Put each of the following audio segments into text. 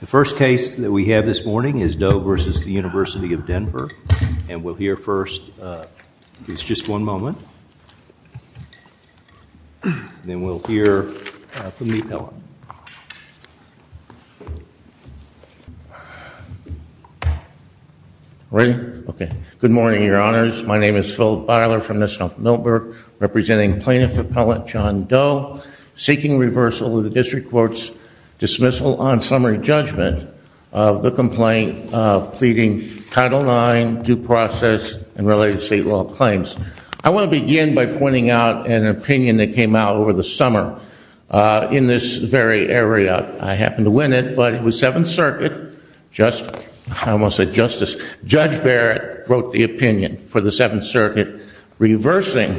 The first case that we have this morning is Doe v. University of Denver. And we'll hear first, just one moment. Then we'll hear from the appellant. Ready? Okay. Good morning, Your Honors. My name is Phil Beiler from the South Millburg, representing plaintiff appellant John Doe, seeking reversal of the district court's dismissal on summary judgment of the complaint pleading Title IX, due process, and related state law claims. I want to begin by pointing out an opinion that came out over the summer in this very area. I happened to win it, but it was Seventh Circuit. I almost said justice. Judge Barrett wrote the opinion for the Seventh Circuit reversing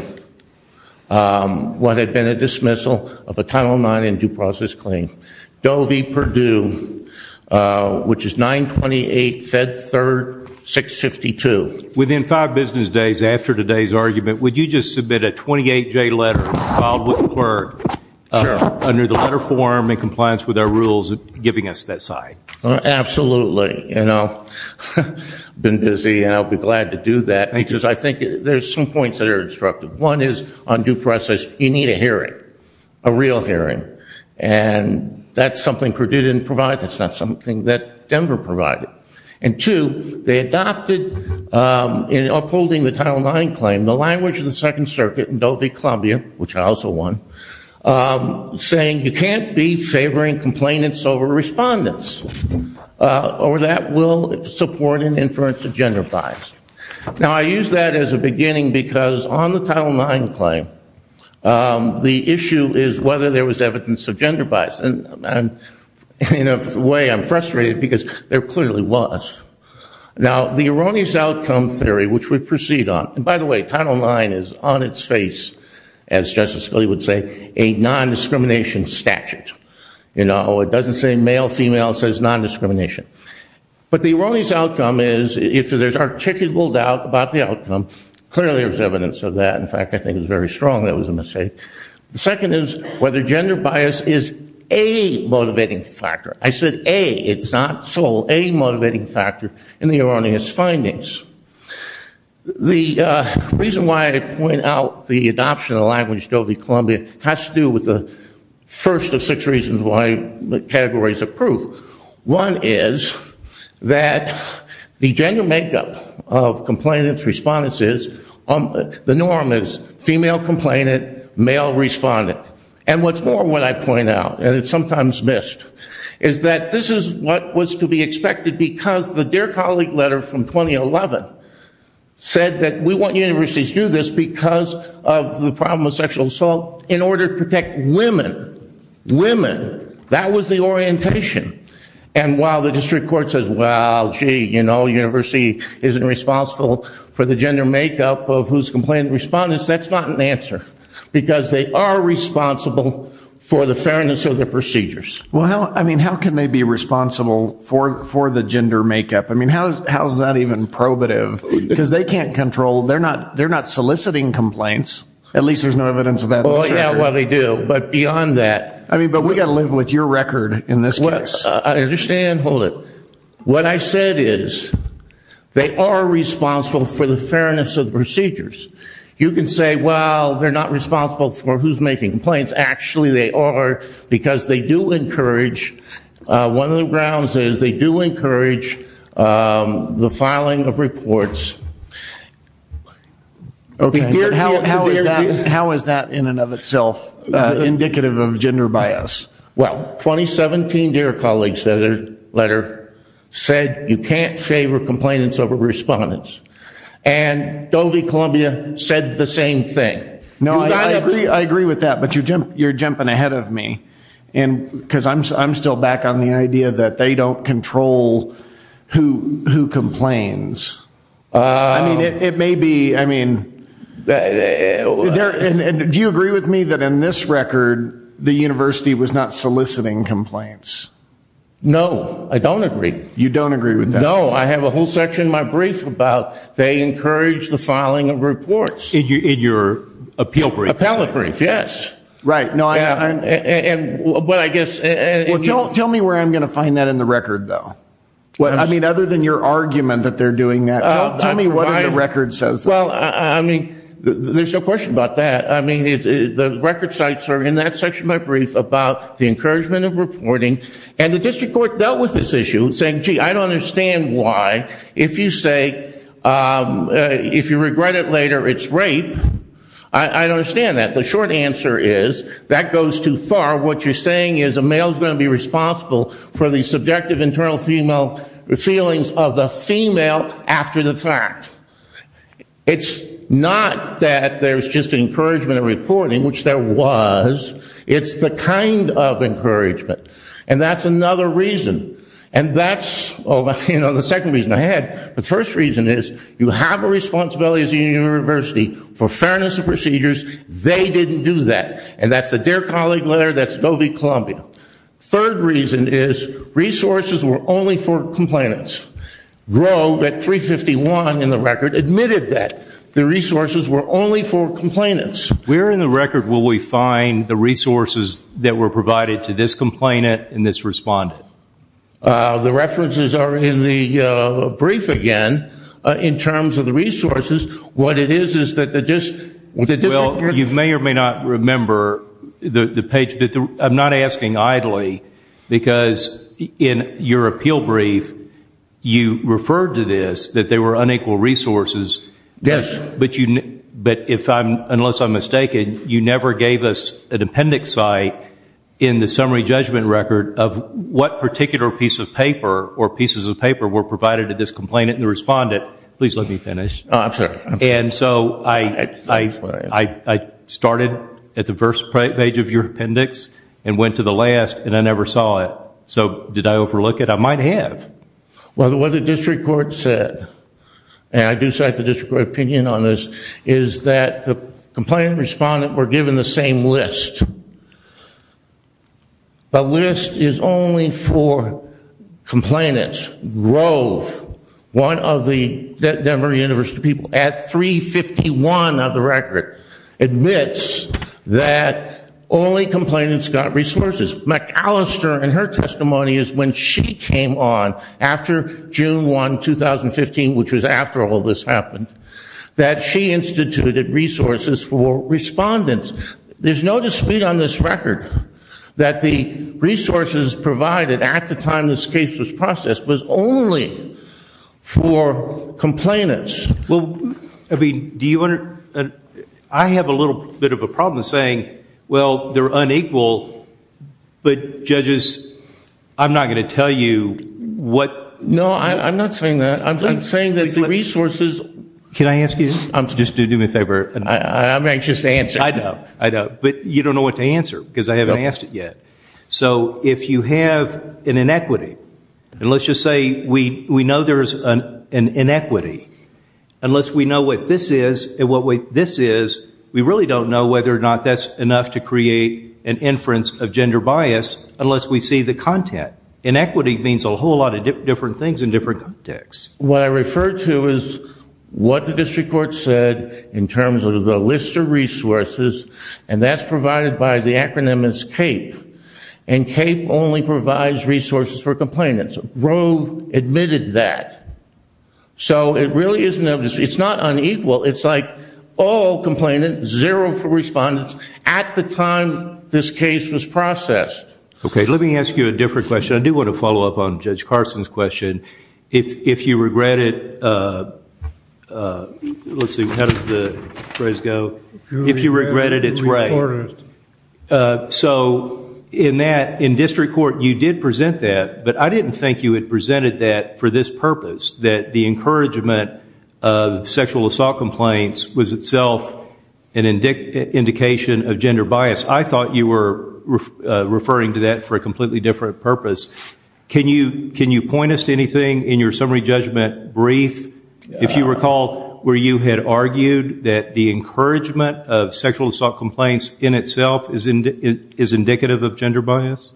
what had been a dismissal of a Title IX due process claim. Doe v. Purdue, which is 928 Fed Third 652. Within five business days after today's argument, would you just submit a 28-J letter filed with the court under the letter form in compliance with our rules giving us that side? Absolutely. I've been busy and I'll be glad to do that because I think there's some points that are disruptive. One is, on due process, you need a real hearing. And that's something Purdue didn't provide. That's not something that Denver provided. And two, they adopted in upholding the Title IX claim, the language of the Second Circuit in Doe v. Columbia, which I also won, saying you can't be favoring complainants over respondents or that will support an inference of gender bias. Now I use that as a beginning because on the Title IX claim the issue is whether there was evidence of gender bias. In a way I'm frustrated because there clearly was. Now the erroneous outcome theory, which we proceed on and by the way, Title IX is on its face, as Justice Scalia would say, a non-discrimination statute. It doesn't say male, female, it says non-discrimination. But the erroneous outcome is if there's articulable doubt about the outcome, clearly there's evidence of that. In fact, I think it's very strong that it was a mistake. The second is whether gender bias is a motivating factor. I said a. It's not sole. A motivating factor in the erroneous findings. The reason why I point out the adoption of the language Doe v. Columbia has to do with the first of six reasons why the categories of proof. One is that the gender makeup of complainants respondents is, the norm is female complainant, male respondent. And what's more when I point out, and it's sometimes missed, is that this is what was to be expected because the Dear Colleague letter from 2011 said that we want universities to do this because of the problem of sexual assault in order to protect women. Women. That was the orientation. And while the district court says, well, gee, you know, they're responsible for the gender makeup of whose complainant respondents, that's not an answer. Because they are responsible for the fairness of their procedures. Well, I mean, how can they be responsible for the gender makeup? I mean, how is that even probative? Because they can't control, they're not soliciting complaints. At least there's no evidence of that. Well, yeah, well, they do. But beyond that. I mean, but we've got to live with your record in this case. I understand. Hold it. What I said is they are responsible for the fairness of the procedures. You can say, well, they're not responsible for who's making complaints. Actually, they are because they do encourage, one of the grounds is they do encourage the filing of reports. How is that in and of itself indicative of gender bias? Well, 2017, dear colleague's letter said you can't favor complainants over respondents. And Dovey Columbia said the same thing. I agree with that. But you're jumping ahead of me. Because I'm still back on the idea that they don't control who complains. I mean, it may be, I mean, do you agree with me that in this case it's not soliciting complaints? No, I don't agree. You don't agree with that? No, I have a whole section in my brief about they encourage the filing of reports. In your appeal brief? Appellate brief, yes. Well, tell me where I'm going to find that in the record, though. I mean, other than your argument that they're doing that. Tell me what the record says. Well, I mean, there's no question about that. The record sites are in that section of my brief about the encouragement of reporting. And the district court dealt with this issue, saying, gee, I don't understand why if you say, if you regret it later it's rape, I don't understand that. The short answer is, that goes too far. What you're saying is a male's going to be responsible for the subjective internal feelings of the female after the fact. It's not that there's just encouragement of reporting, which there was. It's the kind of encouragement. And that's another reason. And that's the second reason I had. The first reason is, you have a responsibility as a university for fairness of procedures. They didn't do that. And that's the Dear Colleague letter, that's Go V. Columbia. Third reason is, resources were only for complainants. Grove, at 351 in the record, admitted that the resources were only for complainants. Where in the record will we find the resources that were provided to this complainant and this respondent? The references are in the brief again, in terms of the resources. What it is, is that the district court Well, you may or may not remember the page, I'm not asking idly, because in your appeal brief, you referred to this, that there were unequal resources. Yes. But if I'm unless I'm mistaken, you never gave us an appendix site in the summary judgment record of what particular piece of paper or pieces of paper were provided to this complainant and respondent. Please let me finish. I'm sorry. And so I started at the first page of your appendix and went to the last and I overlooked it. I might have. Well, what the district court said and I do cite the district court opinion on this, is that the complainant and respondent were given the same list. The list is only for complainants. Grove, one of the Denver University people, at 351 of the record, admits that only complainants got resources. McAllister in her testimony is when she came on after June 1, 2015, which was after all this happened, that she instituted resources for respondents. There's no dispute on this record that the resources provided at the time this case was processed was only for complainants. Well, I mean, do you I have a little bit of a problem saying, well, they're unequal, but judges, I'm not going to tell you what... No, I'm not saying that. I'm saying that the resources... Can I ask you? Just do me a favor. I'm anxious to answer. I know, I know. But you don't know what to answer because I haven't asked it yet. So if you have an inequity and let's just say we know there's an inequity unless we know what this is and what this is, we really don't know whether or not that's enough to create an inference of gender bias unless we see the content. Inequity means a whole lot of different things in different contexts. What I refer to is what the district court said in terms of the list of resources, and that's provided by the acronym is CAPE. And CAPE only provides resources for complainants. Roe admitted that. So it really isn't... It's not unequal. It's like all complainant, zero for respondents at the time this case was processed. Okay, let me ask you a different question. I do want to follow up on Judge Carson's question. If you regret it, let's see, how does the phrase go? If you regret it, it's right. So in that, in district court, you did present that, but I didn't think you had presented that for this purpose, that the encouragement of self and indication of gender bias. I thought you were referring to that for a completely different purpose. Can you point us to anything in your summary judgment brief if you recall where you had argued that the encouragement of sexual assault complaints in itself is indicative of gender bias?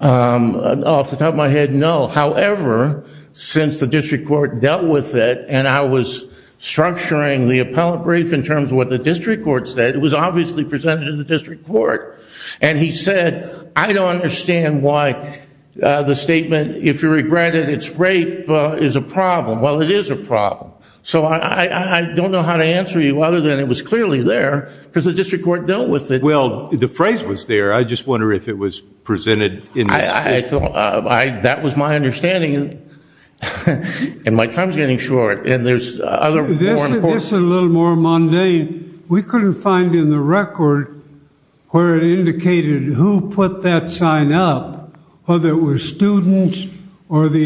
Off the top of my head, no. However, since the district court dealt with it and I was structuring the appellate brief in terms of what the district court said, it was obviously presented to the district court. And he said, I don't understand why the statement, if you regret it, it's rape is a problem. Well, it is a problem. So I don't know how to answer you other than it was clearly there because the district court dealt with it. Well, the phrase was there. I just wonder if it was presented in this case. That was my understanding. And my time's getting short. This is a little more mundane. We couldn't find in the record where it indicated who put that sign up, whether it was students or the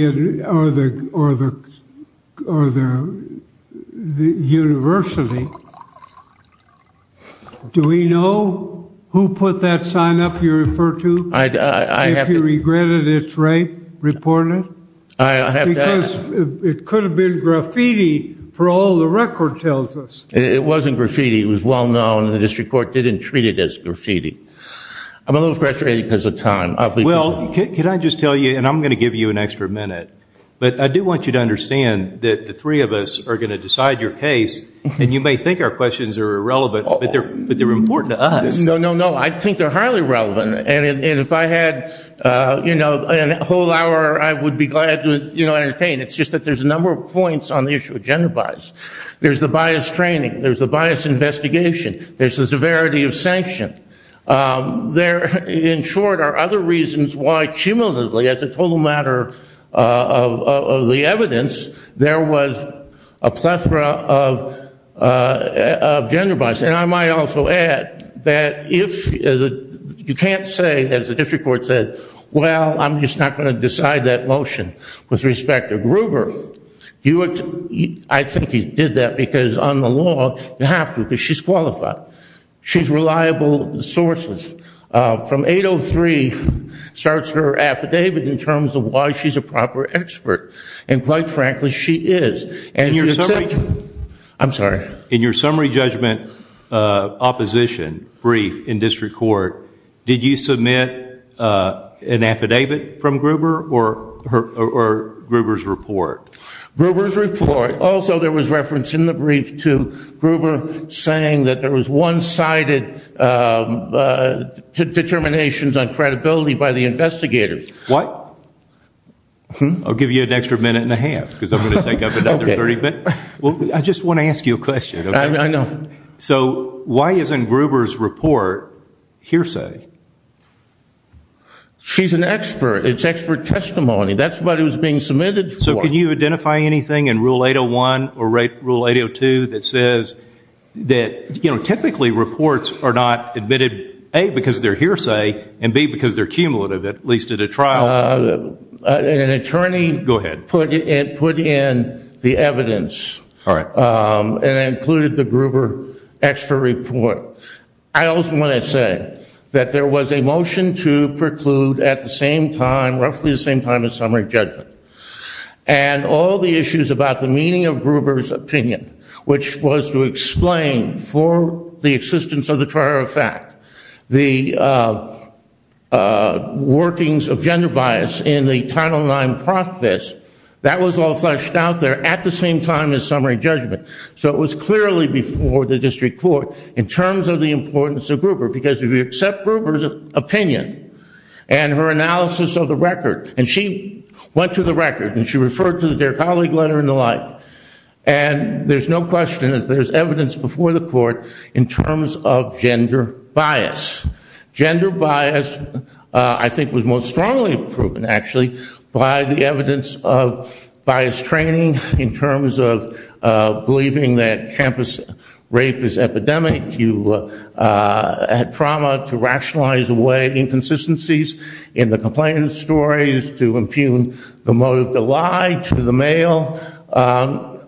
university. Do we know who put that sign up you refer to? If you regret it, it's rape reported? I have to ask. Because it could have been graffiti for all the record tells us. It wasn't graffiti. It was well known. The district court didn't treat it as graffiti. I'm a little frustrated because of time. Well, can I just tell you, and I'm going to give you an extra minute, but I do want you to understand that the three of us are going to decide your case and you may think our questions are irrelevant, but they're important to us. No, no, no. I think they're highly relevant. And if I had a whole hour, I would be glad to entertain. It's just that there's a number of points on the issue of gender bias. There's the bias training. There's the bias investigation. There's the severity of sanction. There, in short, are other reasons why cumulatively as a total matter of the evidence, there was a plethora of gender bias. And I might also add that if you can't say, as the district court said, well, I'm just not going to decide that motion with respect to Gruber, I think he did that because on the law, you have to because she's qualified. She's reliable sources. From 803 starts her affidavit in terms of why she's a proper expert. And quite frankly, she is. I'm sorry. In your summary judgment opposition brief in district court, did you submit an affidavit from Gruber or Gruber's report? Gruber's report. Also, there was reference in the brief to Gruber saying that there was one-sided determinations on credibility by the investigators. What? I'll give you an extra minute and a half because I'm going to take up another 30 minutes. I just want to ask you a question. I know. So why isn't Gruber's report hearsay? She's an expert. It's expert testimony. That's what it was being submitted for. So can you identify anything in Rule 801 or Rule 802 that says that typically reports are not admitted, A, because they're hearsay and B, because they're cumulative, at least at a trial. An attorney put in the evidence and included the Gruber extra report. I also want to say that there was a motion to preclude at the same time, roughly the same time as summary judgment and all the issues about the meaning of Gruber's opinion, which was to explain for the existence of the prior effect, the workings of gender bias in the Title IX process, that was all at the same time as summary judgment. So it was clearly before the district court in terms of the importance of Gruber, because if you accept Gruber's opinion and her analysis of the record, and she went to the record and she referred to their colleague letter and the like, there's no question that there's evidence before the court in terms of gender bias. Gender bias, I think, was most strongly proven, actually, by the evidence of bias training in terms of believing that campus rape is epidemic. You had trauma to rationalize away inconsistencies in the complainant's stories, to impugn the motive to lie to the male.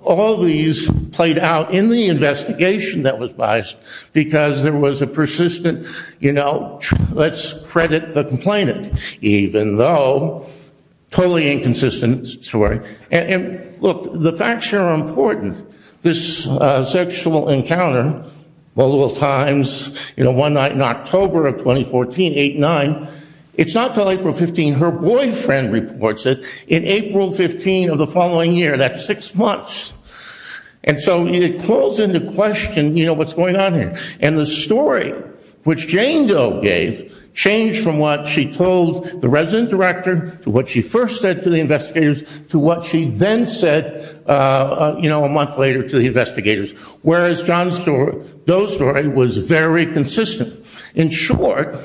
All these played out in the investigation that was biased, because there was a persistent, you know, let's credit the complainant, even though totally inconsistent, sorry. And look, the facts here are important. This sexual encounter, times, you know, one night in October of 2014, 8-9, it's not until April 15, her boyfriend reports it, in April 15 of the following year, that's six months. And so it calls into question, you know, what's going on here. And the story which Jane Doe gave changed from what she told the resident director, to what she first said to the investigators, to what she then said, you know, a month later to the investigators. Whereas John Doe's story was very consistent. In short,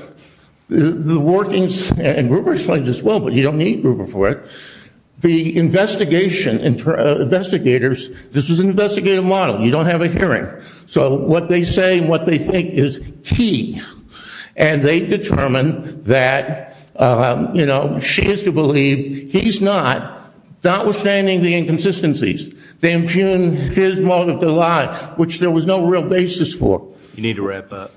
the workings, and Ruber explains this well, but you don't need Ruber for it, the investigation, investigators, this was an investigative model. You don't have a hearing. So what they say and what they think is key. And they determine that, you know, she has to believe he's not, notwithstanding the inconsistencies, they impugn his motive to lie, which there was no real basis for. You need to wrap up.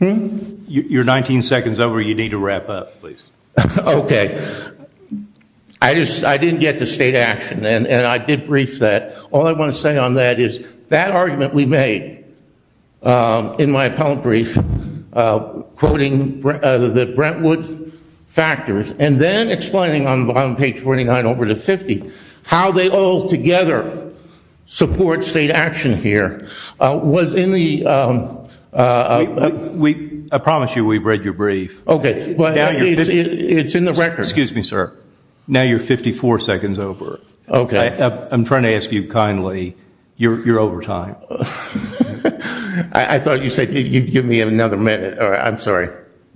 You're 19 seconds over, you need to wrap up, please. Okay. I just, I didn't get to state action, and I did brief that. All I want to say on that is that argument we made, in my appellate brief, quoting the Brentwood factors, and then explaining on page 49 over to 50, how they all together support state action here, was in the... I promise you we've read your brief. Okay. It's in the record. Excuse me, sir. Now you're 54 seconds over. Okay. I'm trying to ask you kindly, you're over time. I thought you said you'd give me another minute. I'm sorry.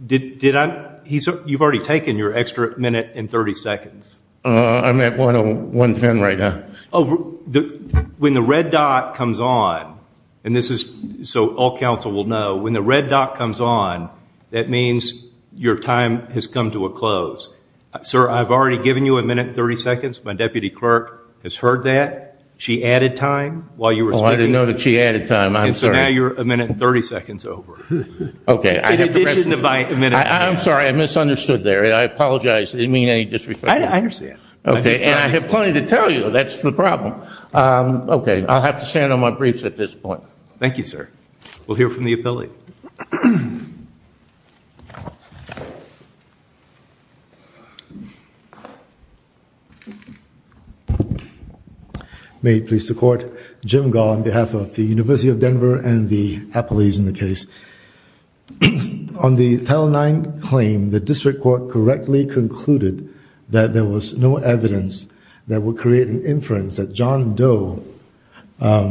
You've already taken your extra minute and 30 seconds. I'm at one ten right now. When the red dot comes on, and this is so all counsel will know, when the red dot comes on, that means your time has come to a close. Sir, I've already given you a minute and 30 seconds. My deputy clerk has heard that. She added time. I'm sorry. So now you're a minute and 30 seconds over. In addition to my minute and 30 seconds. I'm sorry. I misunderstood there. I apologize. I didn't mean any disrespect. I understand. And I have plenty to tell you. That's the problem. Okay. I'll have to stand on my briefs at this point. Thank you, sir. We'll hear from the appellate. Thank you. May it please the court. Jim Gall on behalf of the University of Denver and the appellees in the case. On the Title IX claim, the district court correctly concluded that there was no evidence that would create an inference that John Doe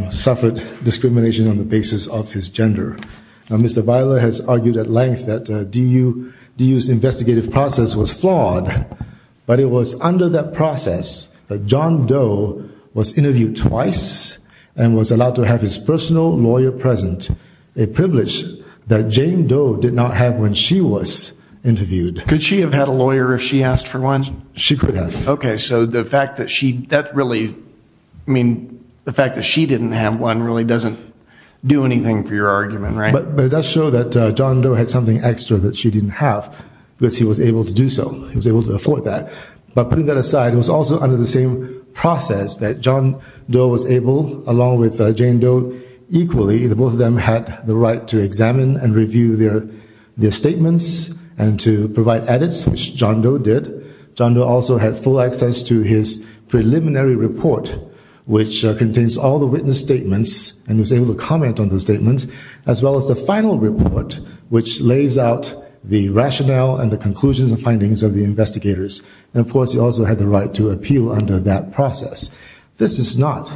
suffered discrimination on the case. Mr. Viola has argued at length that DU's investigative process was flawed, but it was under that process that John Doe was interviewed twice and was allowed to have his personal lawyer present, a privilege that Jane Doe did not have when she was interviewed. Could she have had a lawyer if she asked for one? She could have. Okay. So the fact that she, that really, I mean, the fact that she didn't have one really doesn't do anything for your argument, right? But it does show that John Doe had something extra that she didn't have because he was able to do so. He was able to afford that. But putting that aside, it was also under the same process that John Doe was able, along with Jane Doe, equally, both of them had the right to examine and review their statements and to provide edits, which John Doe did. John Doe also had full access to his preliminary report, which contains all the witness statements, and was able to comment on those statements, as well as the final report, which lays out the rationale and the conclusions and findings of the investigators. And of course, he also had the right to appeal under that process. This is not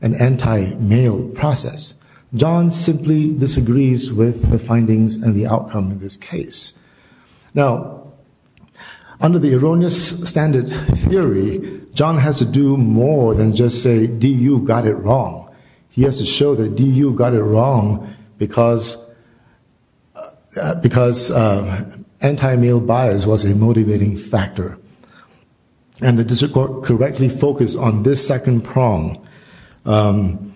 an anti-male process. John simply disagrees with the findings and the outcome of this case. Now, under the erroneous standard theory, John has to do more than just say, D.U. got it wrong. He has to show that D.U. got it wrong because anti-male bias was a motivating factor. And the district court correctly focused on this second prong. And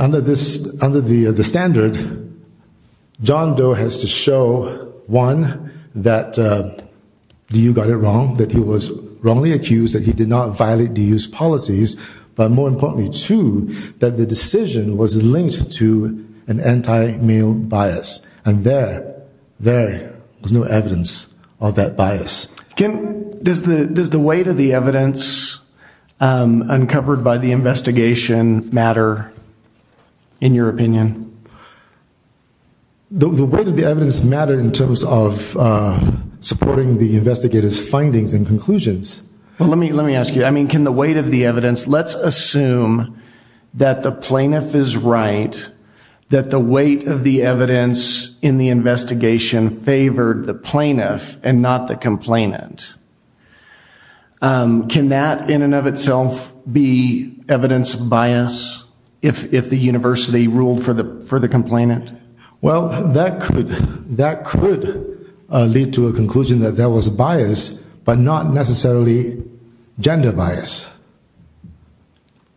under the standard, John Doe has to show, one, that D.U. got it wrong, that he was wrongly using these policies, but more importantly, two, that the decision was linked to an anti-male bias. And there, there was no evidence of that bias. Does the weight of the evidence uncovered by the investigation matter, in your opinion? The weight of the evidence matters in terms of supporting the investigators' findings and conclusions. Well, let me ask you, I mean, can the weight of the evidence, let's assume that the plaintiff is right, that the weight of the evidence in the investigation favored the plaintiff and not the complainant. Can that, in and of itself, be evidence of bias if the university ruled for the complainant? Well, that could lead to a conclusion that that was actually gender bias.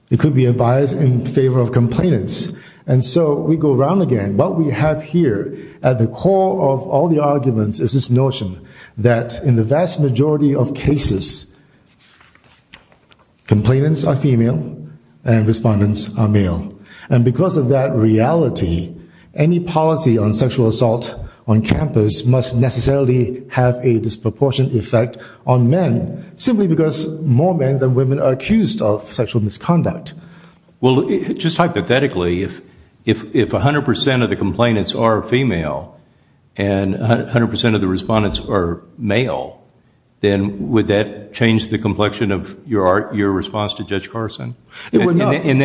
It could be a bias in favor of complainants. And so, we go around again. What we have here, at the core of all the arguments, is this notion that in the vast majority of cases, complainants are female and respondents are male. And because of that reality, any policy on sexual assault on campus must necessarily have a disproportionate effect on men, simply because more men than women are accused of sexual misconduct. Well, just hypothetically, if 100% of the complainants are female, and 100% of the respondents are male, then would that change the complexion of your response to Judge Carson? It would not. In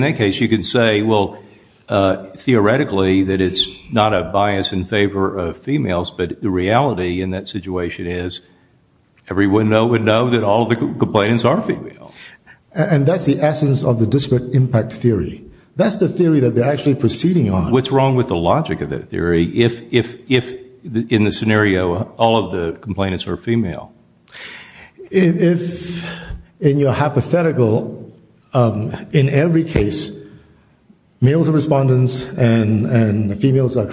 that case, you could say, well, theoretically, that it's not a bias in favor of females, but the reality in that situation is, everyone would know that all of the complainants are female. And that's the essence of the disparate impact theory. That's the theory that they're actually proceeding on. What's wrong with the logic of that theory if, in this scenario, all of the complainants are female? If, in your hypothetical, in every case, males are respondents and females are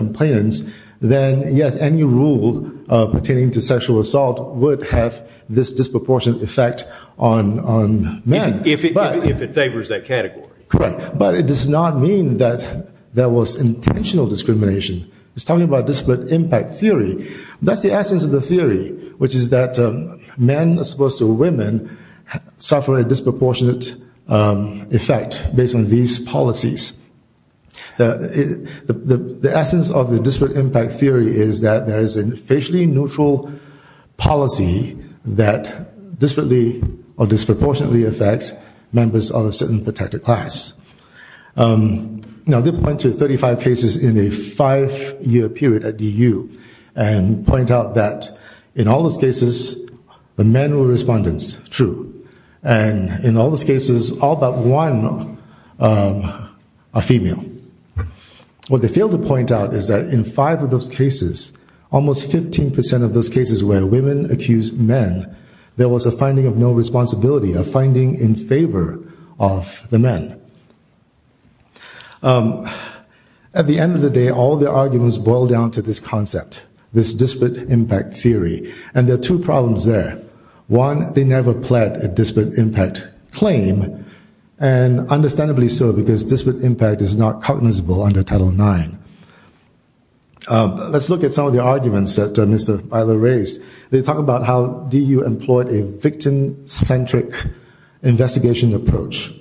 men, any rule pertaining to sexual assault would have this disproportionate effect on men. If it favors that category. Correct. But it does not mean that there was intentional discrimination. It's talking about disparate impact theory. That's the essence of the theory, which is that men, as opposed to women, suffer a disproportionate effect based on these policies. The essence of the disparate impact theory is that there is a facially neutral policy that disproportionately affects members of a certain protected class. Now, they point to 35 cases in a five-year period at DU and point out that, in all those cases, the men were respondents. True. And in all those cases, all but one are female. What they fail to point out is that in five of those cases, almost 15% of those cases where women accused men, there was a finding of no responsibility, a finding in favor of the men. At the end of the day, all their arguments boil down to this concept. This disparate impact theory. And there are two problems there. One, they never pled a disparate impact claim. And understandably so, because disparate impact is not cognizable under Title IX. Let's look at some of the arguments that Mr. Byler raised. They talk about how DU employed a victim-centric investigation approach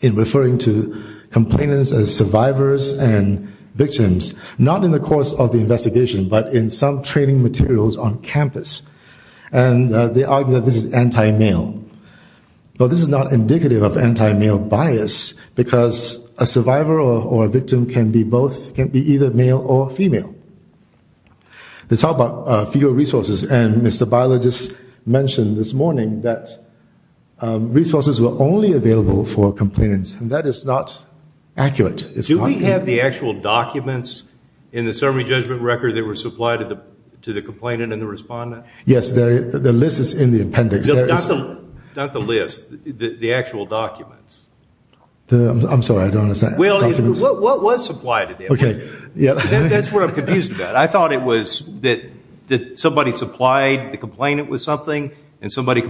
in referring to complainants as survivors and victims, not in the course of the investigation, but in some training materials on campus. And they argue that this is anti-male. Well, this is not indicative of anti-male bias, because a survivor or a victim can be either male or female. They talk about fewer resources, and Mr. Byler just mentioned this morning that resources were only available for complainants. And that is not accurate. Do we have the actual documents in the summary judgment record that were supplied to the complainant and the respondent? Yes, the list is in the appendix. Not the list, the actual documents. I'm sorry, I don't understand. Well, what was supplied to them? That's what I'm confused about. I thought it was that somebody supplied the complainant with something, and somebody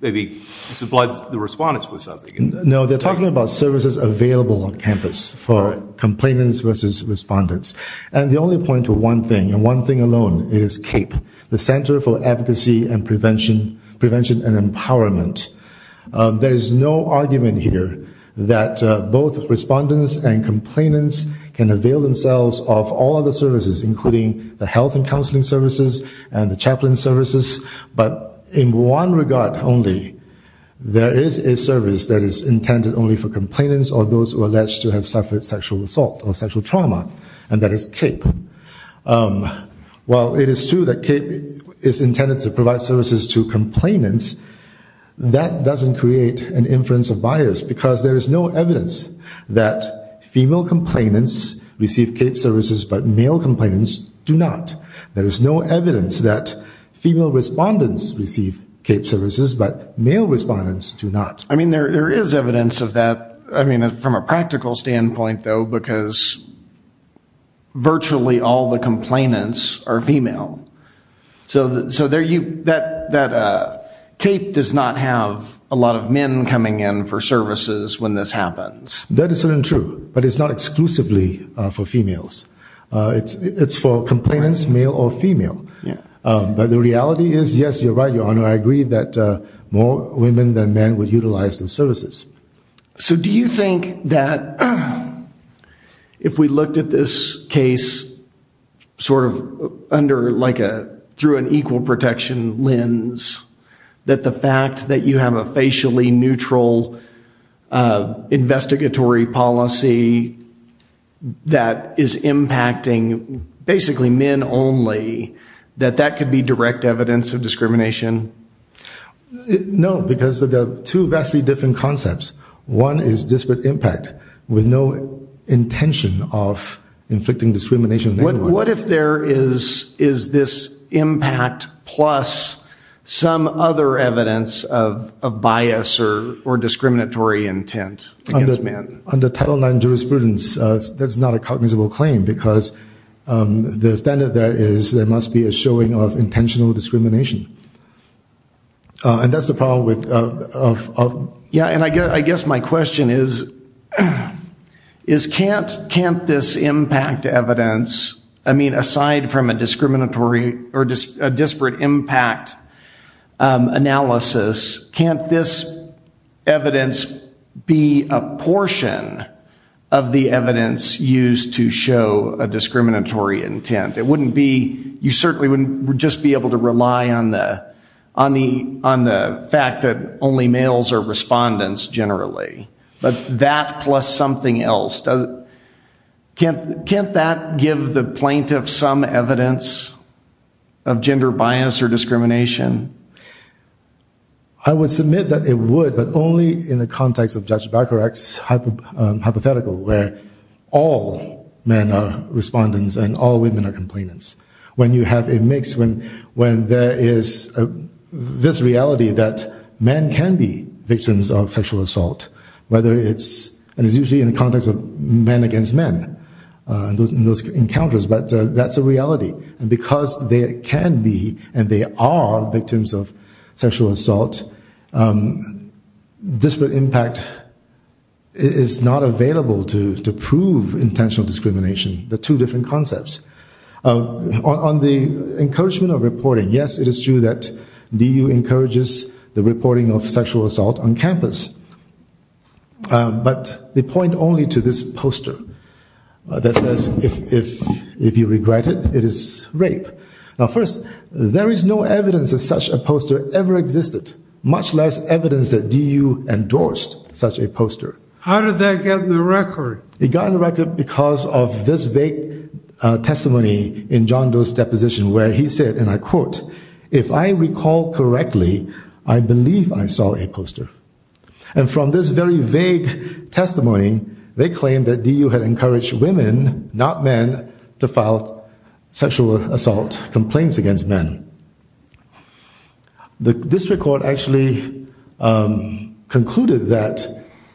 maybe supplied the respondents with something. No, they're talking about services available on campus for complainants versus respondents. And the only point to one thing, and one thing alone, is CAPE, the Center for Advocacy and Prevention and Empowerment. There is no argument here that both respondents and complainants can avail themselves of all of the services, including the health and counseling services, and the chaplain services. But in one regard only, there is a service that is intended only for complainants or those who are alleged to have suffered sexual assault or sexual trauma, and that is CAPE. While it is true that CAPE is intended to provide services to complainants, that doesn't create an inference of bias, because there is no evidence that female complainants receive CAPE services, but male complainants do not. There is no evidence that female respondents receive CAPE services, but male respondents do not. I mean, there is evidence of that. I mean, from a practical standpoint, though, because virtually all the complainants are female. So there you, that, that, CAPE does not have a lot of men coming in for services when this happens. That is certainly true, but it's not exclusively for females. It's for complainants, male or female. But the reality is, yes, you're right, Your Honor, I agree that more women than men would utilize those services. So do you think that if we looked at this case sort of under, like a, through an equal protection lens, that the fact that you have a facially neutral investigatory policy that is impacting basically men only, that that could be direct evidence of discrimination? No, because of the two vastly different concepts. One is disparate impact with no intention of inflicting discrimination. What if there is this impact plus some other evidence of bias or discriminatory intent against men? Under Title IX jurisprudence, that's not a cognizable claim because the standard there is there must be a showing of intentional discrimination. And that's the problem with Yeah, and I guess my question is can't this impact evidence I mean aside from a discriminatory, or a disparate impact analysis, can't this evidence be a portion of the evidence used to show a discriminatory intent? It wouldn't be, you certainly wouldn't just be able to rely on the fact that only males are respondents generally, but that plus something else, can't that give the plaintiff some evidence of gender bias or discrimination? I would submit that it would, but only in the context of Judge Baccarat's hypothetical where all men are respondents and all women are complainants. When you have a mix, when there is this reality that men can be victims of sexual assault, whether it's, and it's usually in the context of men against men, those encounters, but that's a reality and because they can be and they are victims of sexual assault, disparate impact is not available to prove intentional discrimination. The two different concepts. On the encouragement of reporting, yes it is true that DU encourages the reporting of sexual assault on campus, but they point only to this poster that says if you regret it, it is rape. Now first, there is no evidence that such a poster ever existed, much less evidence that DU endorsed such a poster. How did that get on the record? It got on the record because of this vague testimony in John Doe's deposition where he said, and I quote, if I recall correctly, I believe I saw a poster. And from this very vague testimony, they claimed that DU had encouraged women, not men, to file sexual assault complaints against men. This record actually concluded that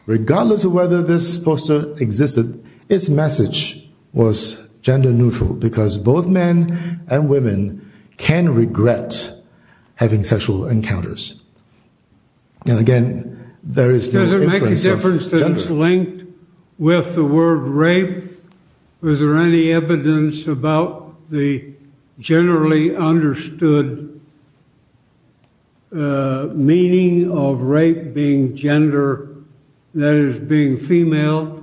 regardless of whether this poster existed, its message was gender neutral because both men and women can regret having sexual encounters. And again, there is no inference of gender. Does it make a difference that it's linked with the word rape? Was there any evidence about the generally understood meaning of rape being gender, that is being female?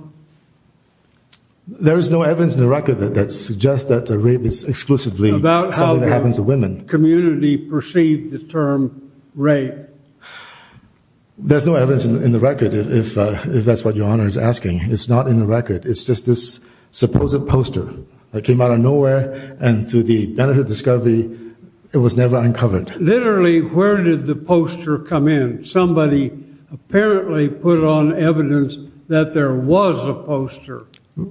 There is no evidence in the record that suggests that rape is exclusively something that happens to women. About how the community perceived the term rape? There's no evidence in the record if that's what Your Honor is asking. It's not in the record. It's just this supposed poster that came out of nowhere and through the benefit of discovery, it was never uncovered. Literally, where did the poster come in? Somebody apparently put on evidence that there was a poster.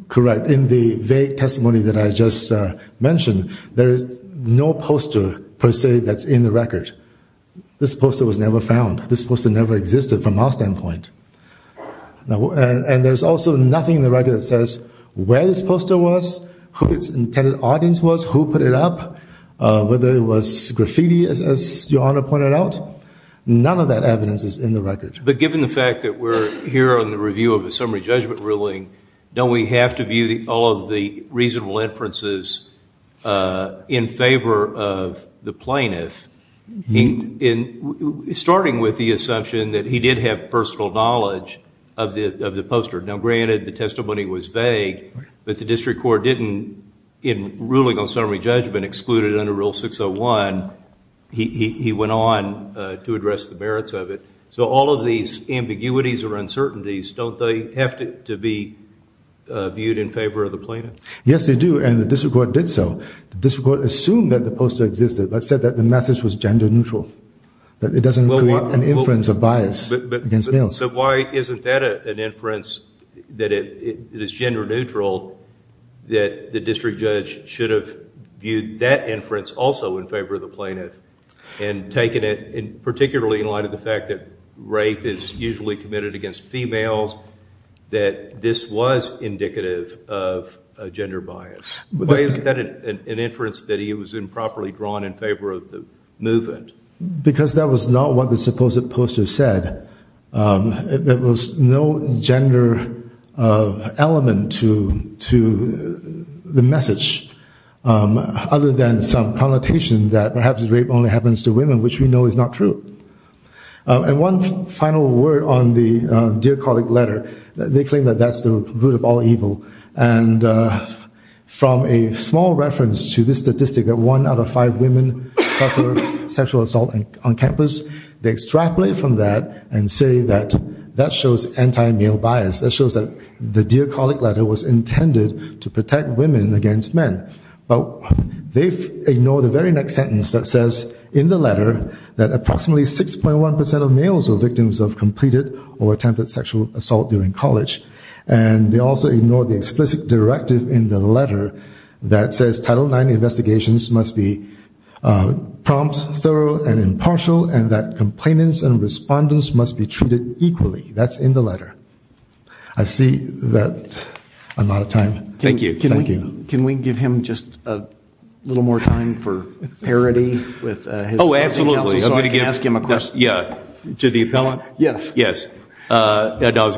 Correct. In the vague testimony that I just mentioned, there is no poster, per se, that's in the record. This poster was never found. This poster never existed from our standpoint. And there's also nothing in the record that says where this poster was, who its intended audience was, who put it up, whether it was graffiti, as Your Honor pointed out. None of that evidence is in the record. But given the fact that we're here on the review of a summary judgment ruling, don't we have to view all of the reasonable inferences in favor of the plaintiff starting with the assumption that he did have personal knowledge of the poster? Now granted, the testimony was vague, but the district court didn't, in ruling on summary judgment, exclude it under Rule 601. He went on to address the merits of it. So all of these ambiguities or uncertainties, don't they have to be viewed in favor of the plaintiff? Yes, they do, and the district court did so. The district court assumed that the poster existed, but said that the message was gender neutral, that it doesn't create an inference of bias against males. So why isn't that an inference that it is gender neutral, that the district judge should have viewed that inference also in favor of the plaintiff and taken it, particularly in light of the fact that rape is usually committed against females, that this was indicative of a gender bias? Why isn't that an inference that he was improperly drawn in favor of the movement? Because that was not what the supposed poster said. There was no gender element to the message, other than some connotation that perhaps rape only happens to women, which we know is not true. And one final word on the Dear Colleague letter. They claim that that's the root of all evil, and from a small reference to this statistic that one out of five women suffer sexual assault on campus, they extrapolate from that and say that that shows anti-male bias. That shows that the Dear Colleague letter was intended to protect women against men. But they've ignored the very next sentence that says in the letter that approximately 6.1% of males were victims of completed or attempted sexual assault during college. And they also ignore the explicit directive in the letter that says Title IX investigations must be prompt, thorough, and impartial and that complainants and respondents must be treated equally. That's in the letter. I see that I'm out of time. Thank you. Can we give him just a little more time for parody? Oh, absolutely. I was going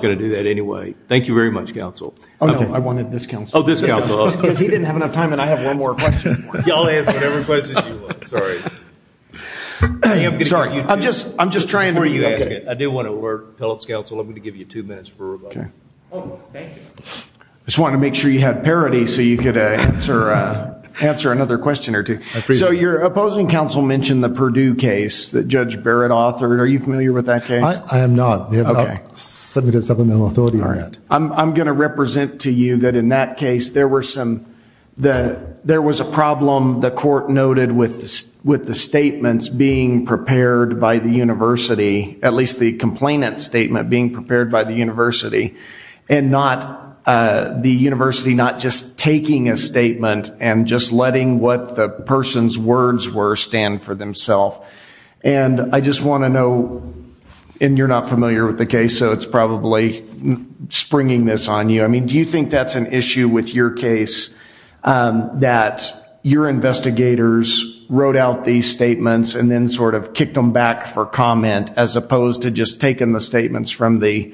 to do that anyway. Thank you very much, Counsel. Oh, no, I wanted this Counsel. Because he didn't have enough time and I have one more question. I'm just trying to be okay. I do want to alert Phillips Counsel. I'm going to give you two minutes for rebuttal. I just wanted to make sure you had parody so you could answer another question or two. So your opposing Counsel mentioned the Purdue case that Judge Barrett authored. Are you familiar with that case? I am not. They have not submitted supplemental authority on that. I'm going to represent to you that in that case there was a problem the court noted with the statements being prepared by the University, at least the complainant statement being prepared by the University and the University not just taking a statement and just letting what the person's words were stand for themselves. I just want to know and you're not familiar with the case so it's probably springing this on you. Do you think that's an issue with your case that your investigators wrote out these back for comment as opposed to just taking the statements from the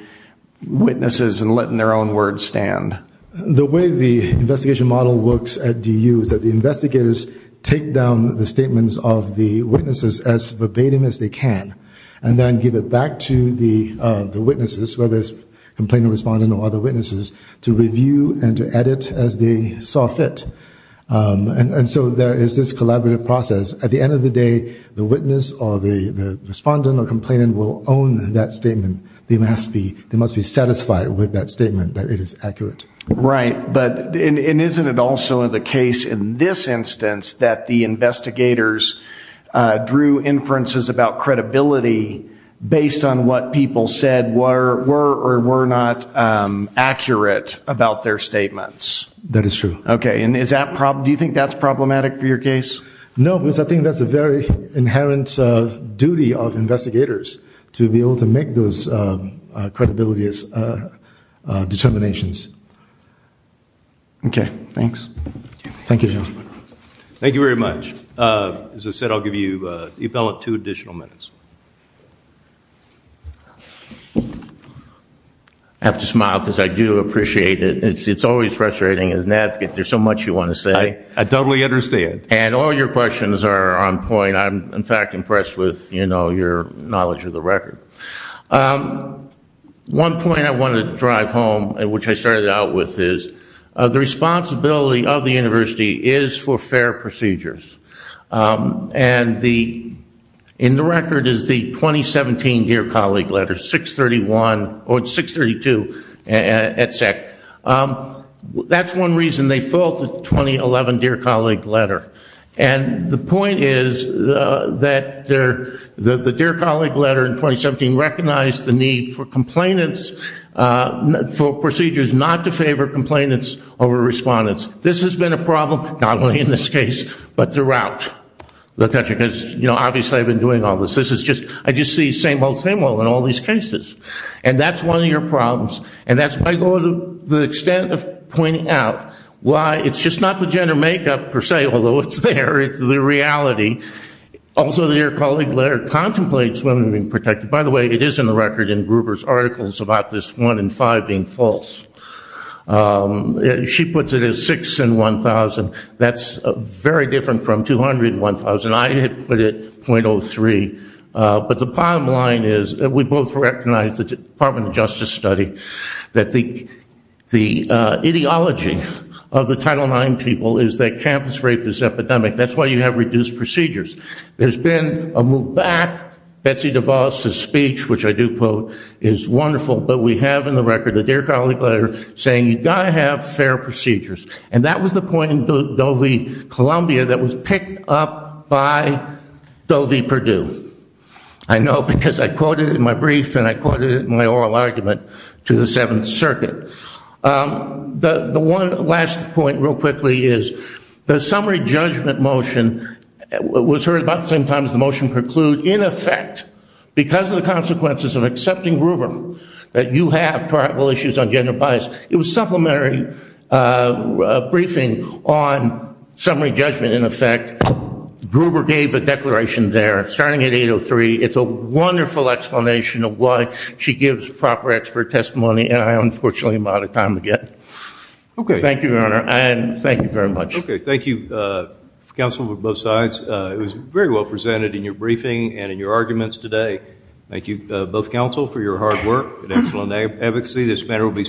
witnesses and letting their own words stand? The way the investigation model works at DU is that the investigators take down the statements of the witnesses as verbatim as they can and then give it back to the witnesses, whether it's complainant or respondent or other witnesses, to review and to edit as they saw fit. And so there is this collaborative process. At the end of the day the witness or the respondent or complainant will own that statement. They must be satisfied with that statement that it is accurate. Right. But isn't it also the case in this instance that the investigators drew inferences about credibility based on what people said were or were not accurate about their statements? That is true. Okay. Do you think that's problematic for your case? No, because I think that's a very inherent duty of investigators to be able to make those credibility determinations. Okay. Thanks. Thank you. Thank you very much. As I said, I'll give you two additional minutes. I have to smile because I do appreciate it. It's always frustrating as an advocate. There's so much you want to say. I totally understand. And all your questions are on point. I'm in fact impressed with, you know, your knowledge of the record. One point I wanted to drive home, which I started out with, is the responsibility of the university is for fair procedures. And the record is the 2017 Dear Colleague letter, 631 or 632 etc. That's one reason they filled the 2011 Dear Colleague letter. And the point is that the Dear Colleague letter in 2017 recognized the need for complainants, for procedures not to favor complainants over respondents. This has been a problem, not only in this case, but throughout the country. Because, you know, obviously I've been doing all this. I just see same old, same old in all these cases. And that's one of your the extent of pointing out why it's just not the gender makeup per se, although it's there, it's the reality. Also the Dear Colleague letter contemplates women being protected. By the way, it is in the record in Gruber's articles about this 1 in 5 being false. She puts it as 6 in 1,000. That's very different from 200 in 1,000. I had put it .03. The ideology of the Title IX people is that campus rape is epidemic. That's why you have reduced procedures. There's been a move back. Betsy DeVos' speech, which I do quote, is wonderful, but we have in the record the Dear Colleague letter saying you've got to have fair procedures. And that was the point in Dovey, Columbia that was picked up by Dovey, Purdue. I know because I quoted it in my brief and I quoted it in my oral argument to the Seventh Circuit. The one last point real quickly is the summary judgment motion was heard about the same time as the motion preclude. In effect, because of the consequences of accepting Gruber that you have terrible issues on gender bias, it was supplementary briefing on summary judgment. In effect, Gruber gave a declaration there starting at 8.03. It's a wonderful explanation of why she gives proper expert testimony, and I unfortunately am out of time again. Thank you, Your Honor, and thank you very much. It was very well presented in your briefing and in your arguments today. Thank you, both counsel, for your hard work and excellent advocacy. This matter will be submitted.